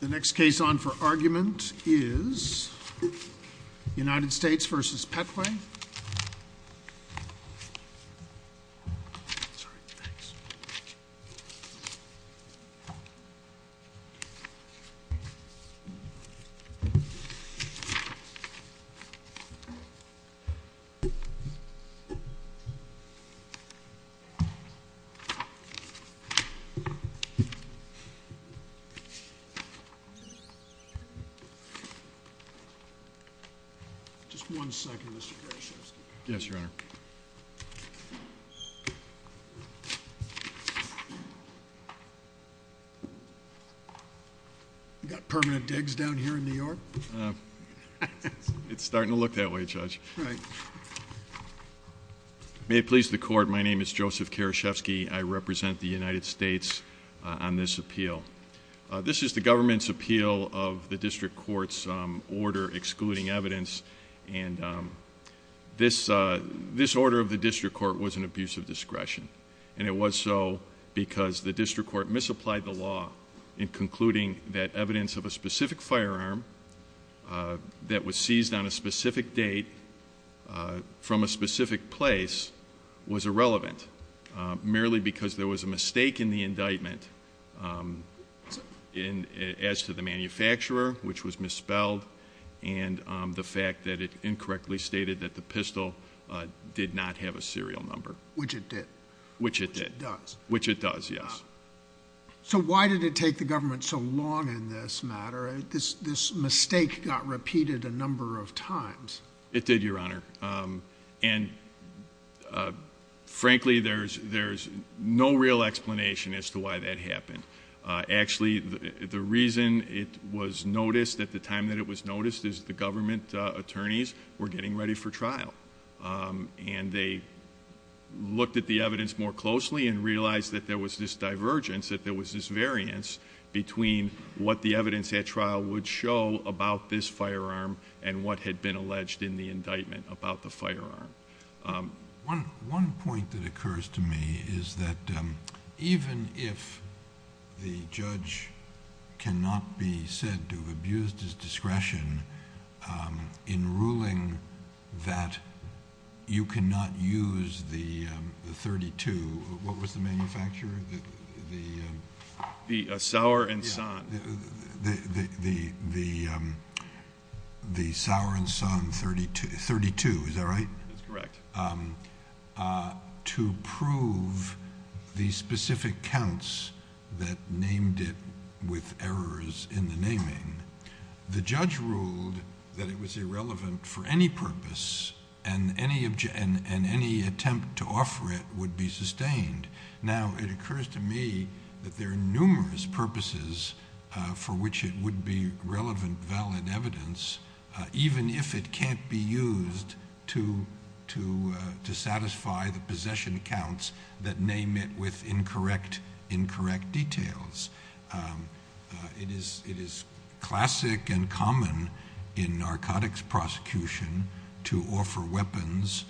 The next case on for argument is United States v. Patway. May it please the court, my name is Joseph Karashevsky, I represent the United States District of Columbia. This is the government's appeal of the district court's order excluding evidence. This order of the district court was an abuse of discretion, and it was so because the district court misapplied the law in concluding that evidence of a specific firearm that was seized on a specific date from a specific place was irrelevant, merely because there was a mistake in the indictment as to the manufacturer, which was misspelled, and the fact that it incorrectly stated that the pistol did not have a serial number. Which it did. Which it did. Which it does. Which it does, yes. So why did it take the government so long in this matter? This mistake got repeated a number of times. It did, your honor. And frankly, there's no real explanation as to why that happened. Actually, the reason it was noticed at the time that it was noticed is the government attorneys were getting ready for trial. And they looked at the evidence more closely and realized that there was this divergence, that there was this variance between what the evidence at trial would show about this in the indictment about the firearm. One point that occurs to me is that even if the judge cannot be said to have abused his discretion in ruling that you cannot use the .32, what was the manufacturer? The Sauer and Son. The Sauer and Son .32, is that right? That's correct. To prove the specific counts that named it with errors in the naming. The judge ruled that it was irrelevant for any purpose and any attempt to offer it would be sustained. Now, it occurs to me that there are numerous purposes for which it would be relevant, valid evidence, even if it can't be used to satisfy the possession counts that name it with incorrect details. It is classic and common in narcotics prosecution to offer weapons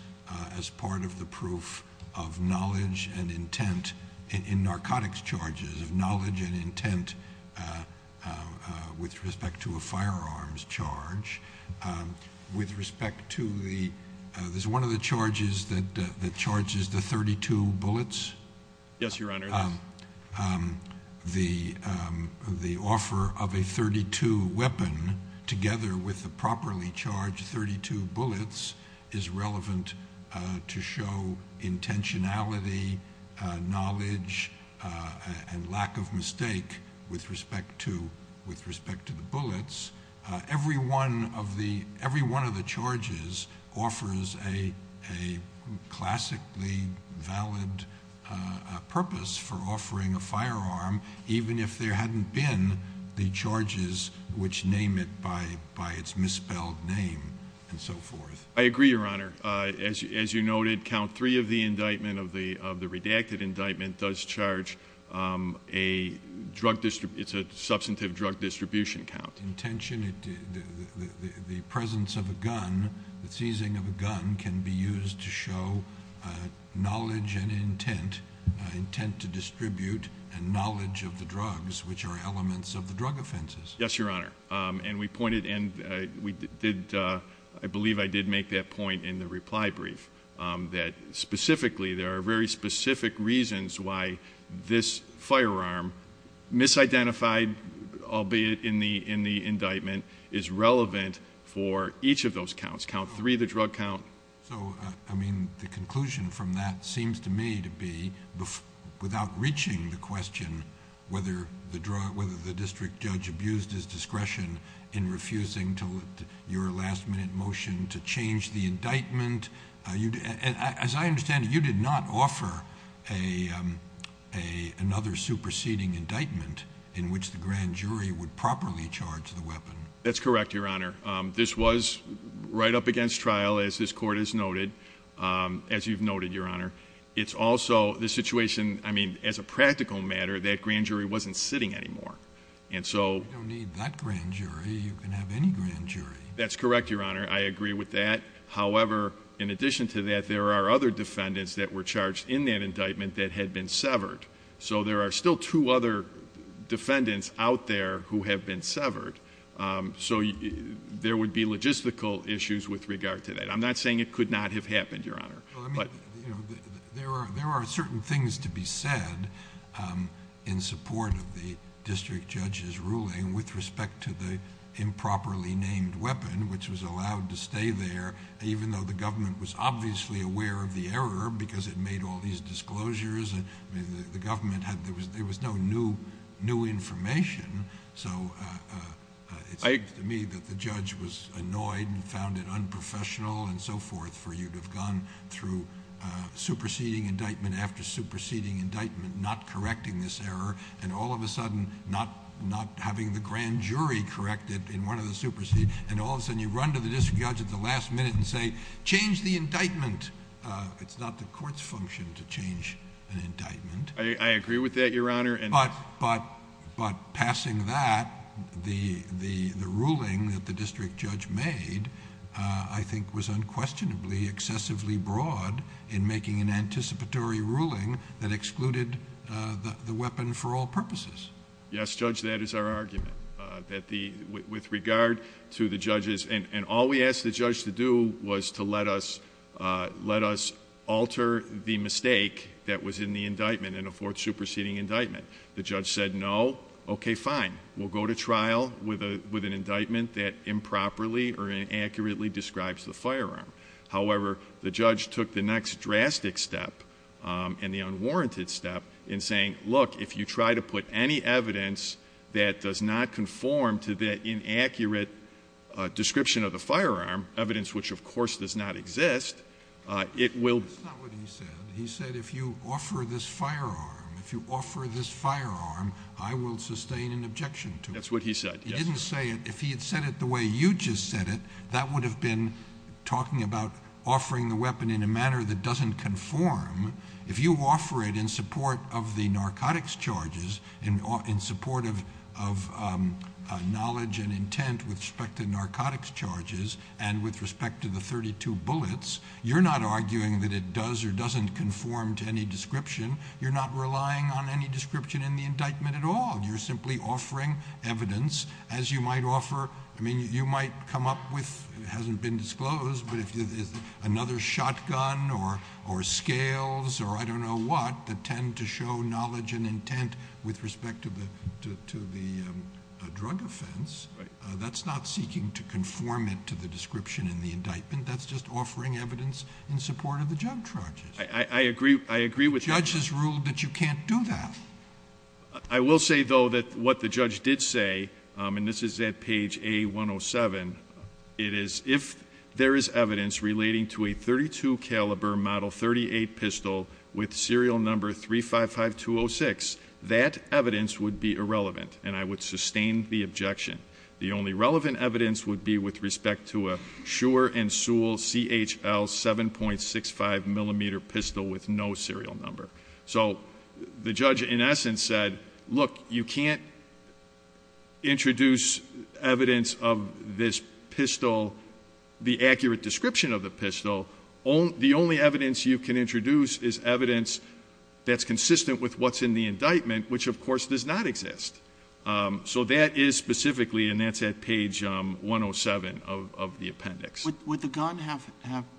as part of the proof of knowledge and intent in narcotics charges, of knowledge and intent with respect to a firearms charge. With respect to the, there's one of the charges that charges the .32 bullets. Yes, Your Honor. The offer of a .32 weapon together with the properly charged .32 bullets is relevant to show intentionality, knowledge, and lack of mistake with respect to the bullets. Every one of the charges offers a classically valid purpose for offering a firearm, even if there hadn't been the charges which name it by its misspelled name and so forth. I agree, Your Honor. As you noted, count three of the indictment, of the redacted indictment, does charge a drug, it's a substantive drug distribution count. Intention, the presence of a gun, the seizing of a gun can be used to show knowledge and intent, intent to distribute, and knowledge of the drugs, which are elements of the drug offenses. Yes, Your Honor. And we pointed, and we did, I believe I did make that point in the reply brief, that specifically there are very specific reasons why this firearm, misidentified, albeit in the indictment, is relevant for each of those counts. Count three, the drug count... So, I mean, the conclusion from that seems to me to be, without reaching the question whether the district judge abused his discretion in refusing your last minute motion to change the indictment, as I understand it, you did not offer another superseding indictment in which the grand jury would properly charge the weapon. That's correct, Your Honor. This was right up against trial, as this court has noted, as you've noted, Your Honor. It's also the situation, I mean, as a practical matter, that grand jury wasn't sitting anymore. And so... You don't need that grand jury. You can have any grand jury. That's correct, Your Honor. I agree with that. However, in addition to that, there are other defendants that were charged in that indictment that had been severed. So there are still two other defendants out there who have been severed. So there would be logistical issues with regard to that. I'm not saying it could not have happened, Your Honor, but... Well, I mean, you know, there are certain things to be said in support of the district judge's ruling with respect to the improperly named weapon, which was allowed to stay there even though the government was obviously aware of the error because it made all these disclosures. I mean, the government had... there was no new information. So it seems to me that the judge was annoyed and found it unprofessional and so forth for you to have gone through superseding indictment after superseding indictment, not having the grand jury correct it in one of the superseding, and all of a sudden you run to the district judge at the last minute and say, change the indictment. It's not the court's function to change an indictment. I agree with that, Your Honor. But passing that, the ruling that the district judge made, I think was unquestionably excessively broad in making an anticipatory ruling that excluded the weapon for all purposes. Yes, Judge, that is our argument, that the... with regard to the judges... and all we asked the judge to do was to let us alter the mistake that was in the indictment in a fourth superseding indictment. The judge said, no, okay, fine, we'll go to trial with an indictment that improperly or inaccurately describes the firearm. However, the judge took the next drastic step and the unwarranted step in saying, look, if you try to put any evidence that does not conform to that inaccurate description of the firearm, evidence which of course does not exist, it will... That's not what he said. He said, if you offer this firearm, if you offer this firearm, I will sustain an objection to it. That's what he said, yes. He didn't say it. If he had said it the way you just said it, that would have been talking about offering the weapon in a manner that doesn't conform. If you offer it in support of the narcotics charges, in support of knowledge and intent with respect to narcotics charges and with respect to the 32 bullets, you're not arguing that it does or doesn't conform to any description. You're not relying on any description in the indictment at all. You're simply offering evidence as you might offer... I mean, you might come up with... it hasn't been disclosed, but another shotgun or scales or I don't know what that tend to show knowledge and intent with respect to the drug offense. That's not seeking to conform it to the description in the indictment. That's just offering evidence in support of the drug charges. I agree with... The judge has ruled that you can't do that. I will say, though, that what the judge did say, and this is at page A107, it is, if there is evidence relating to a .32 caliber Model 38 pistol with serial number 355206, that evidence would be irrelevant, and I would sustain the objection. The only relevant evidence would be with respect to a Shure and Sewell CHL 7.65 millimeter pistol with no serial number. So, the judge, in essence, said, look, you can't introduce evidence of this pistol, the accurate description of the pistol. The only evidence you can introduce is evidence that's consistent with what's in the indictment, which of course does not exist. So that is specifically, and that's at page 107 of the appendix. Would the gun have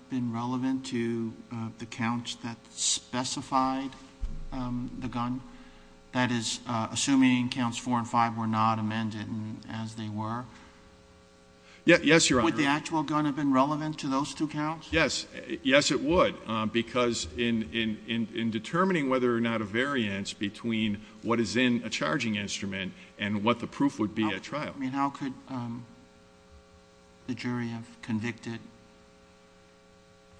been relevant to the counts that specified the gun? That is, assuming counts four and five were not amended as they were? Yes, Your Honor. Would the actual gun have been relevant to those two counts? Yes, yes it would, because in determining whether or not a variance between what is in a charging instrument and what the proof would be at trial. I mean, how could the jury have convicted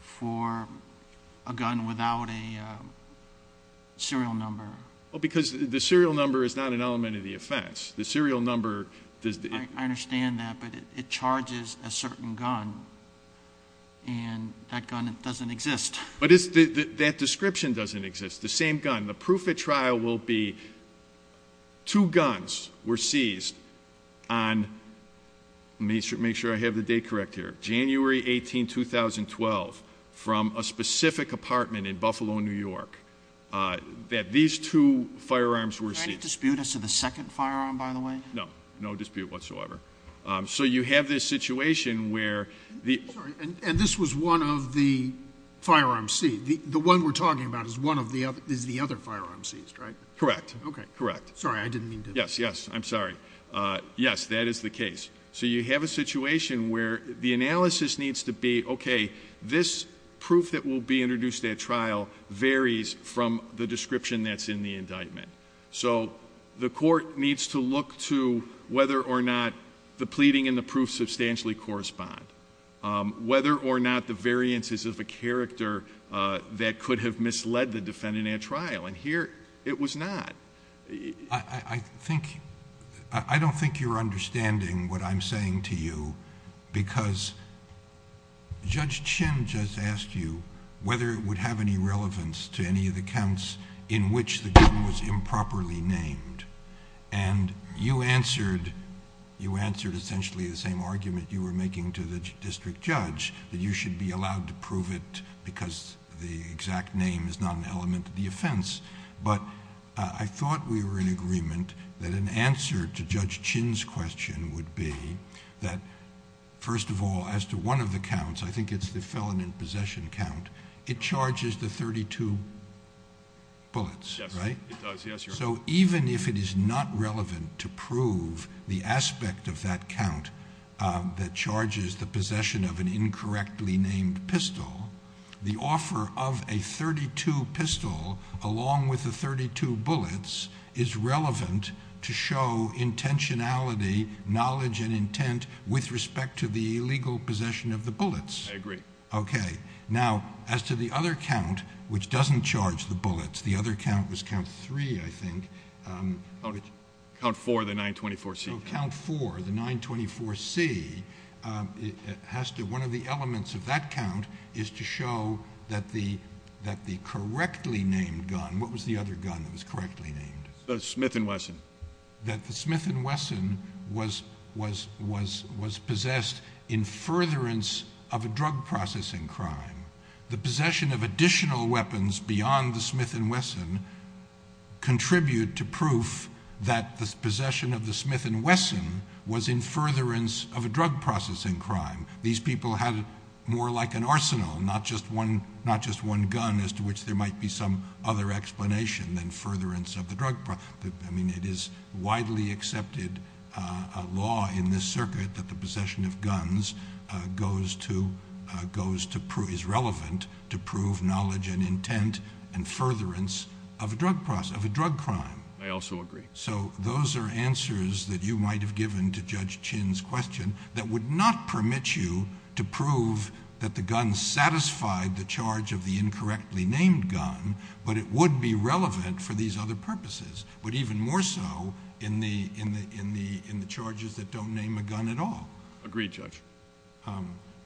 for a gun without a serial number? Well, because the serial number is not an element of the offense. The serial number does the- I understand that, but it charges a certain gun, and that gun doesn't exist. But that description doesn't exist, the same gun. And the proof at trial will be, two guns were seized on, make sure I have the date correct here, January 18, 2012, from a specific apartment in Buffalo, New York, that these two firearms were seized. Can I dispute as to the second firearm, by the way? No, no dispute whatsoever. So you have this situation where the- I'm sorry, and this was one of the firearms seized. The one we're talking about is the other firearm seized, right? Correct, correct. Sorry, I didn't mean to- Yes, yes, I'm sorry. Yes, that is the case. So you have a situation where the analysis needs to be, okay, this proof that will be introduced at trial varies from the description that's in the indictment. So the court needs to look to whether or not the pleading and the proof substantially correspond. Whether or not the variances of a character that could have misled the defendant at trial. And here, it was not. I don't think you're understanding what I'm saying to you. Because Judge Chin just asked you whether it would have any relevance to any of the counts in which the gun was improperly named. And you answered essentially the same argument you were making to the district judge, that you should be allowed to prove it because the exact name is not an element of the offense. But I thought we were in agreement that an answer to Judge Chin's question would be that, first of all, as to one of the counts, I think it's the felon in possession count, it charges the 32 bullets, right? Yes, it does, yes, Your Honor. So even if it is not relevant to prove the aspect of that count that charges the possession of an incorrectly named pistol, the offer of a 32 pistol along with the 32 bullets is relevant to show intentionality, knowledge, and intent with respect to the illegal possession of the bullets. I agree. Okay, now, as to the other count, which doesn't charge the bullets, the other count was count three, I think. Count four, the 924C. No, count four, the 924C, one of the elements of that count is to show that the correctly named gun, what was the other gun that was correctly named? The Smith & Wesson. That the Smith & Wesson was possessed in furtherance of a drug processing crime. The possession of additional weapons beyond the Smith & Wesson contribute to proof that the possession of the Smith & Wesson was in furtherance of a drug processing crime. These people had more like an arsenal, not just one gun, as to which there might be some other explanation than furtherance of the drug. I mean, it is widely accepted law in this circuit that the possession of a gun is relevant to prove knowledge and intent and furtherance of a drug crime. I also agree. So, those are answers that you might have given to Judge Chin's question, that would not permit you to prove that the gun satisfied the charge of the incorrectly named gun, but it would be relevant for these other purposes. But even more so in the charges that don't name a gun at all. Agreed, Judge.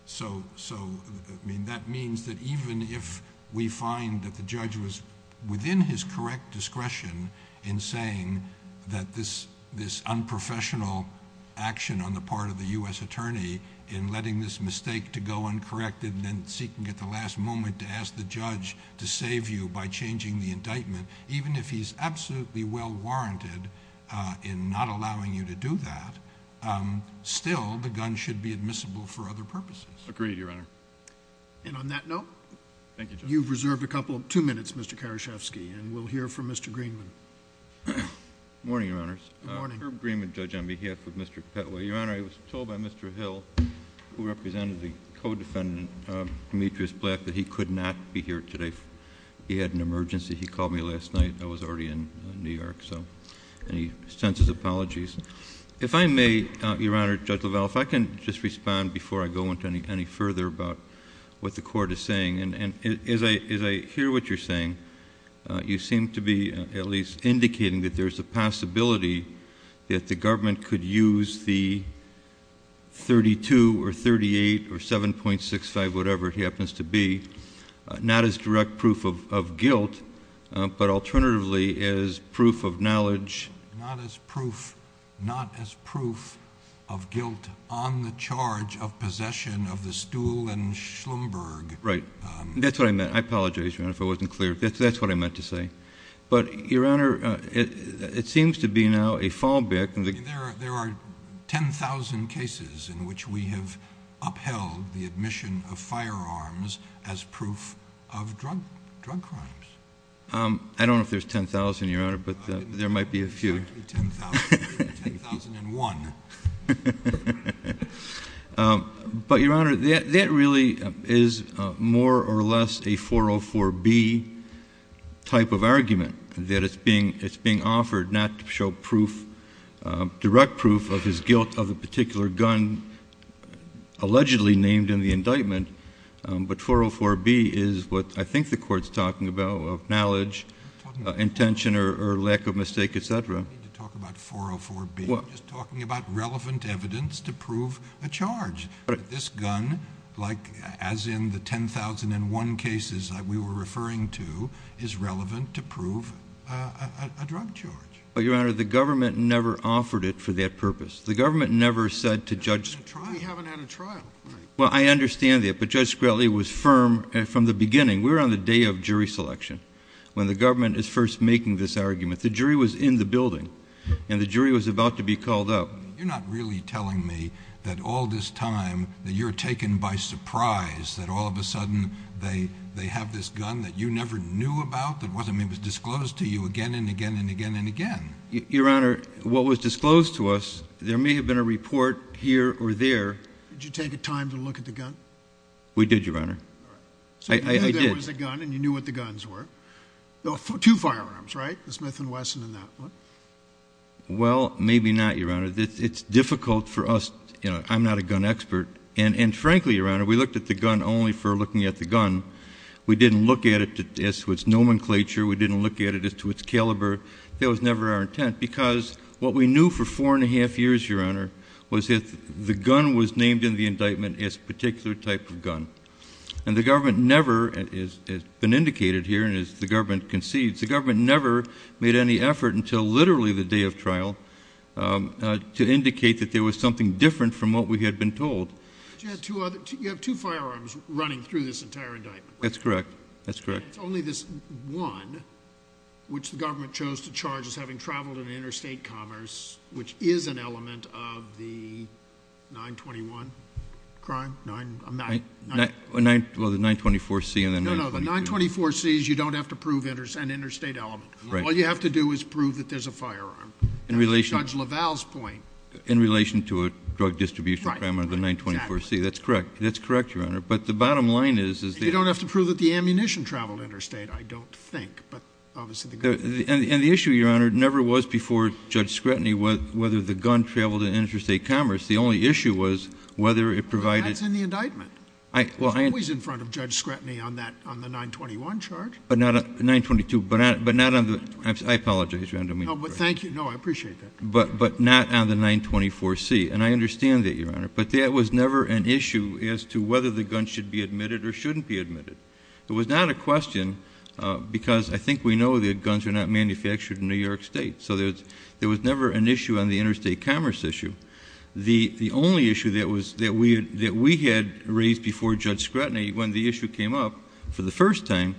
So, I mean, that means that even if we find that the judge was within his correct discretion in saying that this unprofessional action on the part of the U.S. attorney in letting this mistake to go uncorrected and then seeking at the last moment to ask the judge to save you by changing the indictment. Even if he's absolutely well warranted in not allowing you to do that, still the gun should be admissible for other purposes. Agreed, Your Honor. And on that note. Thank you, Judge. You've reserved a couple, two minutes, Mr. Karashevsky, and we'll hear from Mr. Greenman. Morning, Your Honors. Good morning. Herb Greenman, Judge, on behalf of Mr. Petway. Your Honor, I was told by Mr. Hill, who represented the co-defendant, Demetrius Black, that he could not be here today. He had an emergency. He called me last night. I was already in New York, so any sense of apologies? If I may, Your Honor, Judge LaValle, if I can just respond before I go into any further about what the court is saying. And as I hear what you're saying, you seem to be at least indicating that there's a possibility that the government could use the 32 or 38 or 7.65, whatever it happens to be, not as direct proof of guilt, but alternatively as proof of knowledge. Not as proof, not as proof of guilt on the charge of possession of the Stuhl and Schlumberg. Right. That's what I meant. I apologize, Your Honor, if I wasn't clear. That's what I meant to say. But, Your Honor, it seems to be now a fallback. There are 10,000 cases in which we have upheld the admission of firearms as proof of drug crimes. I don't know if there's 10,000, Your Honor, but there might be a few. I think there's exactly 10,000. 10,001. But, Your Honor, that really is more or less a 404B type of argument, that it's being offered not to show direct proof of his guilt of a particular gun allegedly named in the indictment, but 404B is what I think the court's talking about, of knowledge, intention, or lack of mistake, etc. We don't need to talk about 404B. We're just talking about relevant evidence to prove a charge. This gun, as in the 10,001 cases that we were referring to, is relevant to prove a drug charge. But, Your Honor, the government never offered it for that purpose. The government never said to Judge... We haven't had a trial. Well, I understand that, but Judge Scali was firm from the beginning. We were on the day of jury selection when the government is first making this argument. The jury was in the building, and the jury was about to be called up. You're not really telling me that all this time that you're taken by surprise, that all of a sudden they have this gun that you never knew about, that was disclosed to you again and again and again and again. Your Honor, what was disclosed to us, there may have been a report here or there. Did you take the time to look at the gun? We did, Your Honor. All right. There was a gun, and you knew what the guns were. Two firearms, right? The Smith & Wesson and that one. Well, maybe not, Your Honor. It's difficult for us. I'm not a gun expert. And frankly, Your Honor, we looked at the gun only for looking at the gun. We didn't look at it as to its nomenclature. We didn't look at it as to its caliber. That was never our intent because what we knew for four and a half years, Your Honor, was that the gun was named in the indictment as a particular type of gun. And the government never, as has been indicated here and as the government concedes, the government never made any effort until literally the day of trial to indicate that there was something different from what we had been told. You have two firearms running through this entire indictment. That's correct. That's correct. It's only this one, which the government chose to charge as having traveled in interstate commerce, which is an element of the 921 crime. Well, the 924C and the 922. No, no. The 924C is you don't have to prove an interstate element. All you have to do is prove that there's a firearm. In relation... Judge LaValle's point. In relation to a drug distribution crime under the 924C. That's correct. That's correct, Your Honor. But the bottom line is, is that... You don't have to prove that the ammunition traveled interstate, I don't think. Obviously, the gun... And the issue, Your Honor, never was before Judge Scretany whether the gun traveled in interstate commerce. The only issue was whether it provided... That's in the indictment. Well, I... It's always in front of Judge Scretany on that, on the 921 charge. But not on 922, but not on the... I apologize, Your Honor. No, but thank you. No, I appreciate that. But not on the 924C. And I understand that, Your Honor. It was not a question because I think we know that guns are not manufactured in New York State. So there was never an issue on the interstate commerce issue. The only issue that was... That we had raised before Judge Scretany when the issue came up for the first time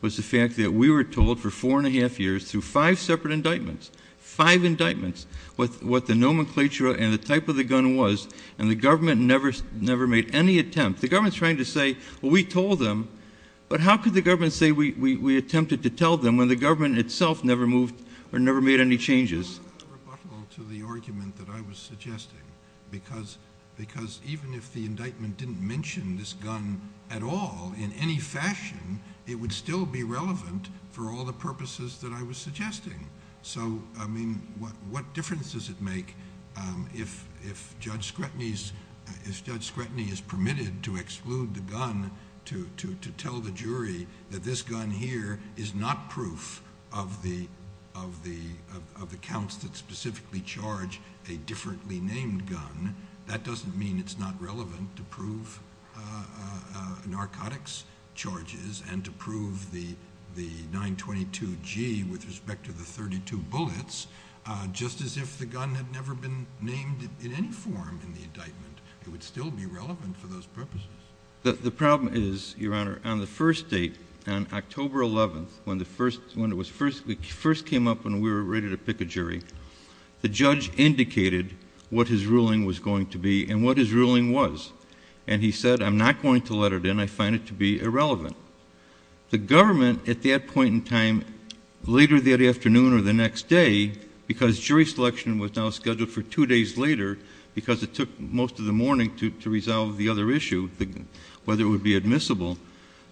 was the fact that we were told for four and a half years through five separate indictments, five indictments, what the nomenclature and the type of the gun was. And the government never made any attempt. The government's trying to say, well, we told them. But how could the government say we attempted to tell them when the government itself never moved or never made any changes? Well, I rebuttal to the argument that I was suggesting because even if the indictment didn't mention this gun at all in any fashion, it would still be relevant for all the purposes that I was suggesting. So, I mean, what difference does it make if Judge Scretany is permitted to exclude the gun to tell the jury that this gun here is not proof of the counts that specifically charge a differently named gun? That doesn't mean it's not relevant to prove narcotics charges and to prove the 922G with respect to the 32 bullets, just as if the gun had never been named in any form in the indictment. It would still be relevant for those purposes. The problem is, Your Honor, on the first date, on October 11th, when it first came up and we were ready to pick a jury, the judge indicated what his ruling was going to be and what his ruling was. And he said, I'm not going to let it in. I find it to be irrelevant. The government at that point in time, later that afternoon or the next day, because jury selection was now scheduled for two days later because it took most of the morning to resolve the other issue, whether it would be admissible,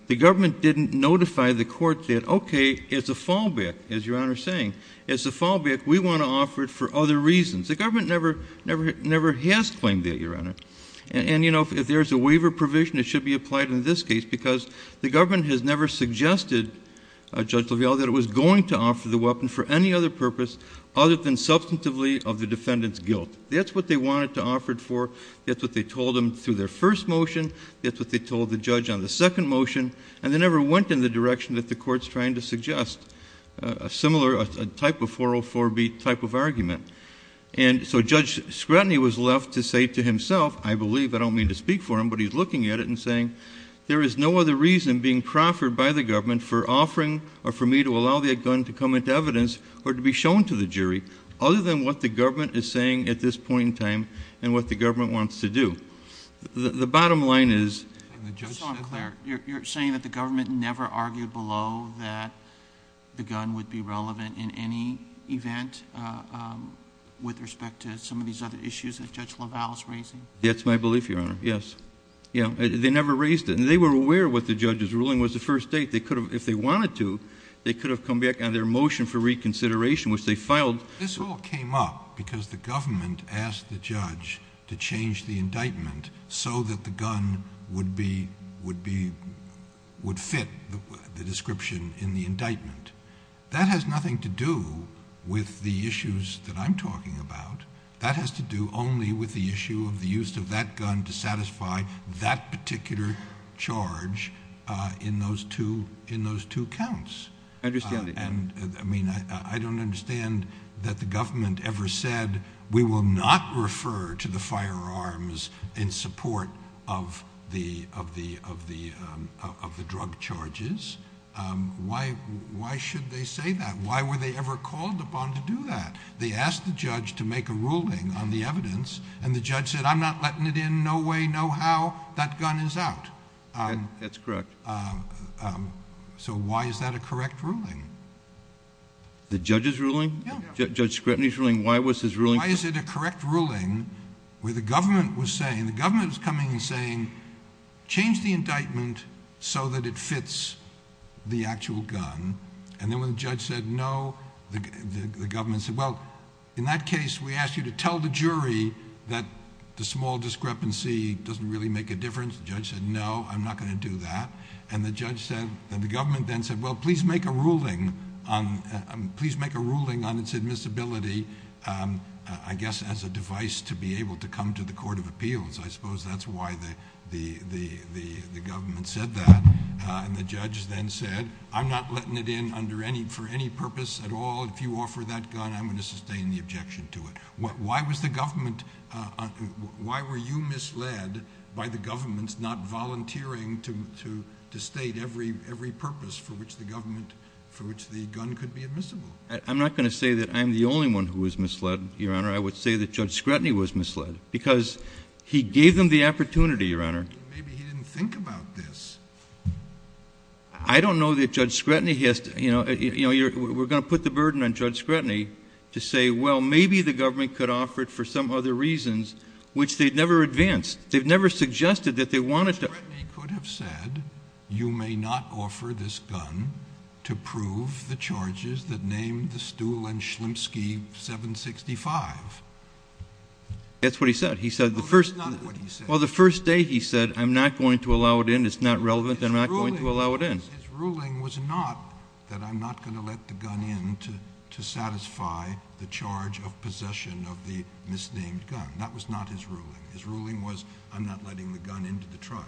the government didn't notify the court that, okay, it's a fallback, as Your Honor is saying. It's a fallback. We want to offer it for other reasons. The government never has claimed that, Your Honor. And, you know, if there's a waiver provision, it should be applied in this case because the government has never suggested, Judge LaValle, that it was going to offer the weapon for any other purpose other than substantively of the defendant's guilt. That's what they wanted to offer it for. That's what they told him through their first motion. That's what they told the judge on the second motion. And they never went in the direction that the court's trying to suggest, a similar type of 404B type of argument. And so Judge Scrutiny was left to say to himself, I believe, I don't mean to speak for him, but he's looking at it and saying, there is no other reason being proffered by the government for offering or for me to allow the evidence or to be shown to the jury other than what the government is saying at this point in time and what the government wants to do. The bottom line is... And the judge... Just so I'm clear, you're saying that the government never argued below that the gun would be relevant in any event with respect to some of these other issues that Judge LaValle's raising? That's my belief, Your Honor. Yes. Yeah. They never raised it. And they were aware what the judge's ruling was the first date. They could have, if they wanted to, they could have come back on their motion for reconsideration, which they filed... This all came up because the government asked the judge to change the indictment so that the gun would be, would be, would fit the description in the indictment. That has nothing to do with the issues that I'm talking about. That has to do only with the issue of the use of that gun to satisfy that particular charge in those two, in those two counts. And I mean, I don't understand that the government ever said, we will not refer to the firearms in support of the drug charges. Why should they say that? Why were they ever called upon to do that? They asked the judge to make a ruling on the evidence and the judge said, I'm not letting it in. No way, no how. That gun is out. That's correct. Um, um, so why is that a correct ruling? The judge's ruling? Judge Scrutiny's ruling? Why was his ruling? Why is it a correct ruling where the government was saying, the government was coming and saying, change the indictment so that it fits the actual gun. And then when the judge said, no, the government said, well, in that case, we asked you to tell the jury that the small discrepancy doesn't really make a difference. The judge said, no, I'm not going to do that. And the judge said, the government then said, well, please make a ruling on, please make a ruling on its admissibility. Um, uh, I guess as a device to be able to come to the court of appeals, I suppose that's why the, the, the, the, the government said that. Uh, and the judge then said, I'm not letting it in under any, for any purpose at all. If you offer that gun, I'm going to sustain the objection to it. Why was the government, uh, why were you misled by the government's not volunteering to, to, to state every, every purpose for which the government, for which the gun could be admissible? I'm not going to say that I'm the only one who was misled, Your Honor. I would say that judge Scrutiny was misled because he gave them the opportunity, Your Honor. Maybe he didn't think about this. I don't know that judge Scrutiny has to, you know, you know, you're, we're going to put the burden on judge Scrutiny to say, well, maybe the government could offer it for some other reasons, which they'd never advanced. They've never suggested that they wanted to. Judge Scrutiny could have said, you may not offer this gun to prove the charges that named the Stuhl and Schlimpski 765. That's what he said. He said the first, well, the first day he said, I'm not going to allow it in. It's not relevant. I'm not going to allow it in. His ruling was not that I'm not going to let the gun in to, to satisfy the charge of possession of the misnamed gun. That was not his ruling. His ruling was I'm not letting the gun into the trial.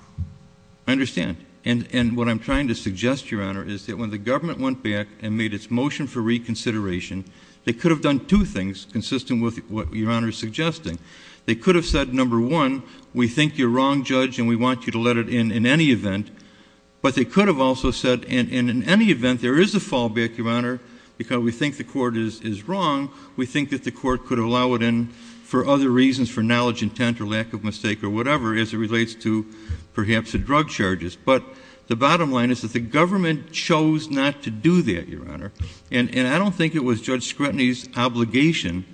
I understand. And, and what I'm trying to suggest, Your Honor, is that when the government went back and made its motion for reconsideration, they could have done two things consistent with what Your Honor is suggesting. They could have said, number one, we think you're wrong, judge, and we want you to let it in, in any event, but they could have also said, and in any event, there is a fallback, Your Honor, because we think the court is, is wrong. We think that the court could allow it in for other reasons, for knowledge, intent, or lack of mistake, or whatever, as it relates to perhaps the drug charges. But the bottom line is that the government chose not to do that, Your Honor. And, and I don't think it was Judge Scrutiny's obligation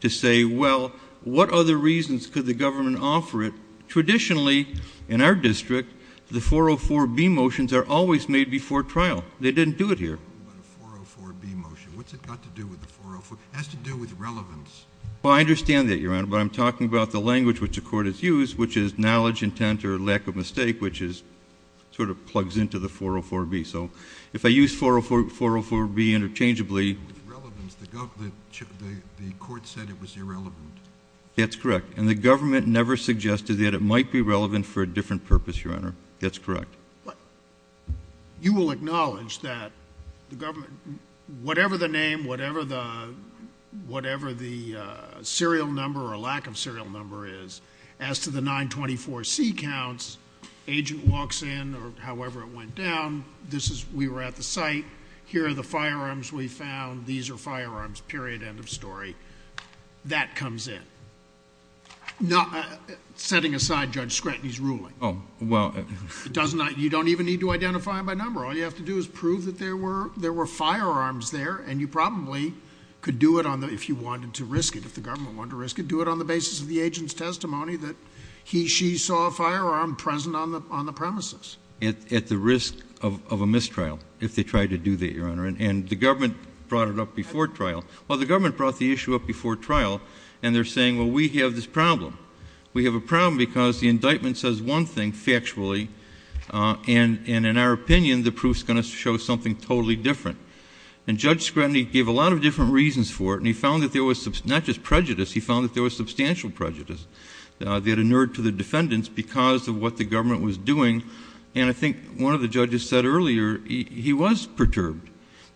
to say, well, what other reasons could the government offer it? Traditionally in our district, the 404B motions are always made before trial. They didn't do it here. But a 404B motion, what's it got to do with the 404? It has to do with relevance. Well, I understand that, Your Honor, but I'm talking about the language which the court has used, which is knowledge, intent, or lack of mistake, which is, sort of plugs into the 404B. So if I use 404, 404B interchangeably. With relevance, the government, the, the court said it was irrelevant. That's correct. And the government never suggested that it might be relevant for a different purpose, Your Honor. That's correct. You will acknowledge that the government, whatever the name, whatever the, whatever the serial number or lack of serial number is, as to the 924C counts, agent walks in or however it went down, this is, we were at the site, here are the firearms we found, these are firearms, period, end of story. That comes in. Not, setting aside Judge Scrutiny's ruling. Oh, well. It doesn't, you don't even need to identify by number. All you have to do is prove that there were, there were firearms there, and you probably could do it on the, if you wanted to risk it, if the government wanted to risk it, do it on the basis of the agent's testimony that he, she saw a firearm present on the, on the premises. At, at the risk of, of a mistrial, if they tried to do that, Your Honor. And, and the government brought it up before trial. Well, the government brought the issue up before trial, and they're saying, well, we have this problem. We have a problem because the indictment says one thing, factually, and, and in our opinion, the proof's going to show something totally different. And Judge Scrutiny gave a lot of different reasons for it, and he found that there was some, not just prejudice, he found that there was substantial prejudice that inured to the defendants because of what the government was doing. And I think one of the judges said earlier, he, he was perturbed,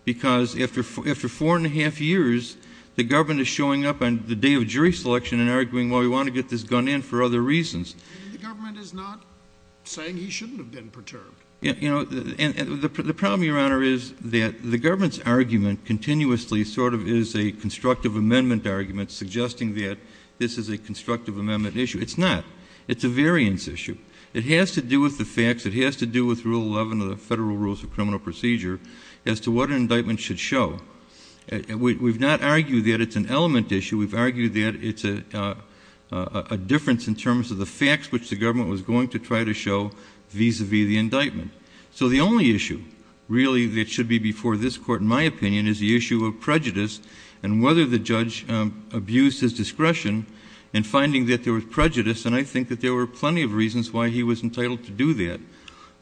because after, after four and a half years, the government is showing up on the day of jury selection and arguing, well, we want to get this gun in for other reasons. The government is not saying he shouldn't have been perturbed. You know, and, and the problem, Your Honor, is that the government's argument continuously sort of is a constructive amendment argument, suggesting that this is a constructive amendment issue. It's not. It's a variance issue. It has to do with the facts. It has to do with Rule 11 of the Federal Rules of Criminal Procedure as to what an indictment should show. We, we've not argued that it's an element issue. We've argued that it's a, a, a difference in terms of facts which the government was going to try to show vis-a-vis the indictment. So the only issue, really, that should be before this Court, in my opinion, is the issue of prejudice and whether the judge, um, abused his discretion in finding that there was prejudice. And I think that there were plenty of reasons why he was entitled to do that.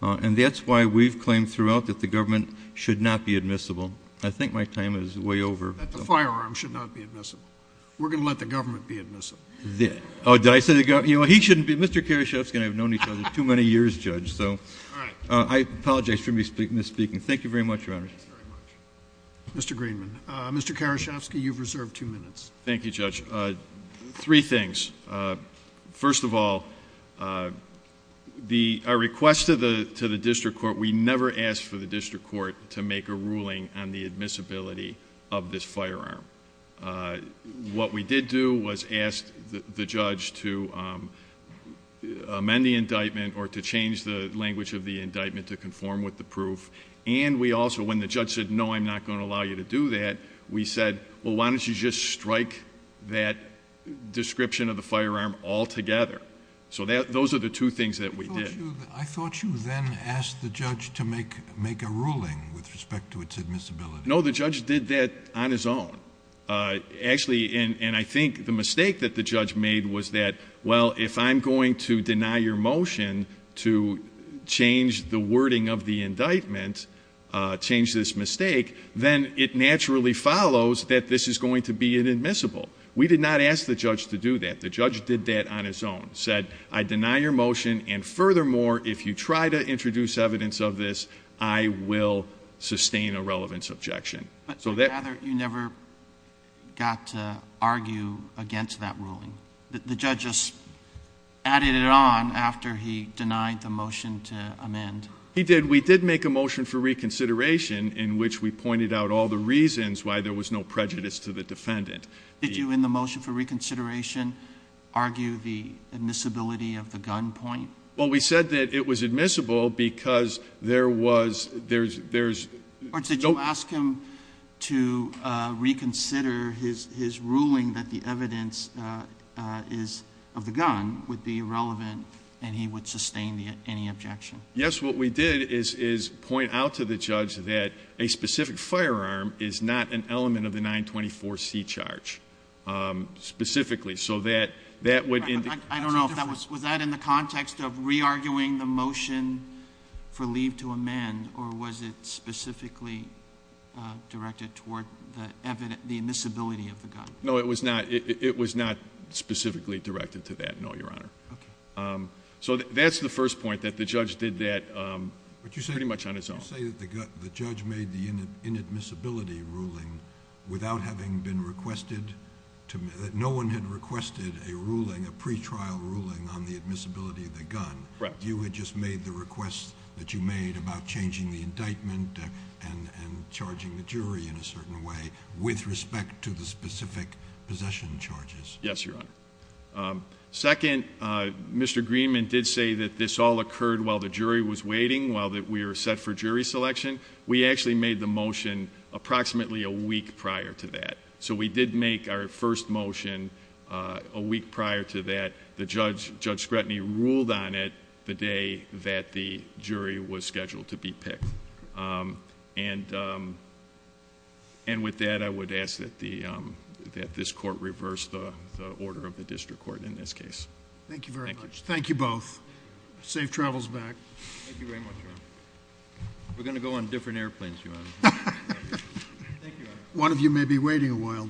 Uh, and that's why we've claimed throughout that the government should not be admissible. I think my time is way over. That the firearm should not be admissible. We're going to let the government be admissible. Oh, did I say the government? You know, he shouldn't be. Mr. Karaschowski and I have known each other too many years, Judge, so. All right. Uh, I apologize for me speaking, misspeaking. Thank you very much, Your Honor. Mr. Greenman. Uh, Mr. Karaschowski, you've reserved two minutes. Thank you, Judge. Uh, three things. Uh, first of all, uh, the, our request to the, to the District Court, we never asked for the District Court to make a ruling on admissibility of this firearm. Uh, what we did do was ask the judge to, um, amend the indictment or to change the language of the indictment to conform with the proof. And we also, when the judge said, no, I'm not going to allow you to do that, we said, well, why don't you just strike that description of the firearm altogether? So that, those are the two things that we did. I thought you then asked the judge to make, make a ruling with respect to its admissibility. No, the judge did that on his own. Uh, actually, and, and I think the mistake that the judge made was that, well, if I'm going to deny your motion to change the wording of the indictment, uh, change this mistake, then it naturally follows that this is going to be inadmissible. We did not ask the judge to do that. The judge did that on his own, said, I deny your motion and further more, if you try to introduce evidence of this, I will sustain a relevance objection. But I'd rather you never got to argue against that ruling. The judge just added it on after he denied the motion to amend. He did. We did make a motion for reconsideration in which we pointed out all the reasons why there was no prejudice to the defendant. Did you in the motion for reconsideration argue the admissibility of the gun point? Well, we said that it was admissible because there was, there's, there's... Or did you ask him to, uh, reconsider his, his ruling that the evidence, uh, uh, is of the gun would be irrelevant and he would sustain the, any objection? Yes. What we did is, is point out to the judge that a specific firearm is not an element of the 924 C charge, um, specifically so that, that would... I don't know if that was, was that in the context of re-arguing the motion for leave to amend or was it specifically, uh, directed toward the evidence, the admissibility of the gun? No, it was not. It was not specifically directed to that. No, Your Honor. Okay. Um, so that's the first point that the judge did that, um, pretty much on his own. But you say, you say that the judge made the inadmissibility ruling without having been trial ruling on the admissibility of the gun. Correct. You had just made the request that you made about changing the indictment and, and charging the jury in a certain way with respect to the specific possession charges. Yes, Your Honor. Um, second, uh, Mr. Greenman did say that this all occurred while the jury was waiting, while that we were set for jury selection. We actually made the motion approximately a week prior to that. So we did make our first motion, uh, a week prior to that the judge, Judge Scretany ruled on it the day that the jury was scheduled to be picked. Um, and, um, and with that, I would ask that the, um, that this court reverse the, the order of the district court in this case. Thank you very much. Thank you both. Safe travels back. Thank you very much, Your Honor. We're going to go on different airplanes, Your Honor. Thank you, Your Honor. One of you may be waiting a while.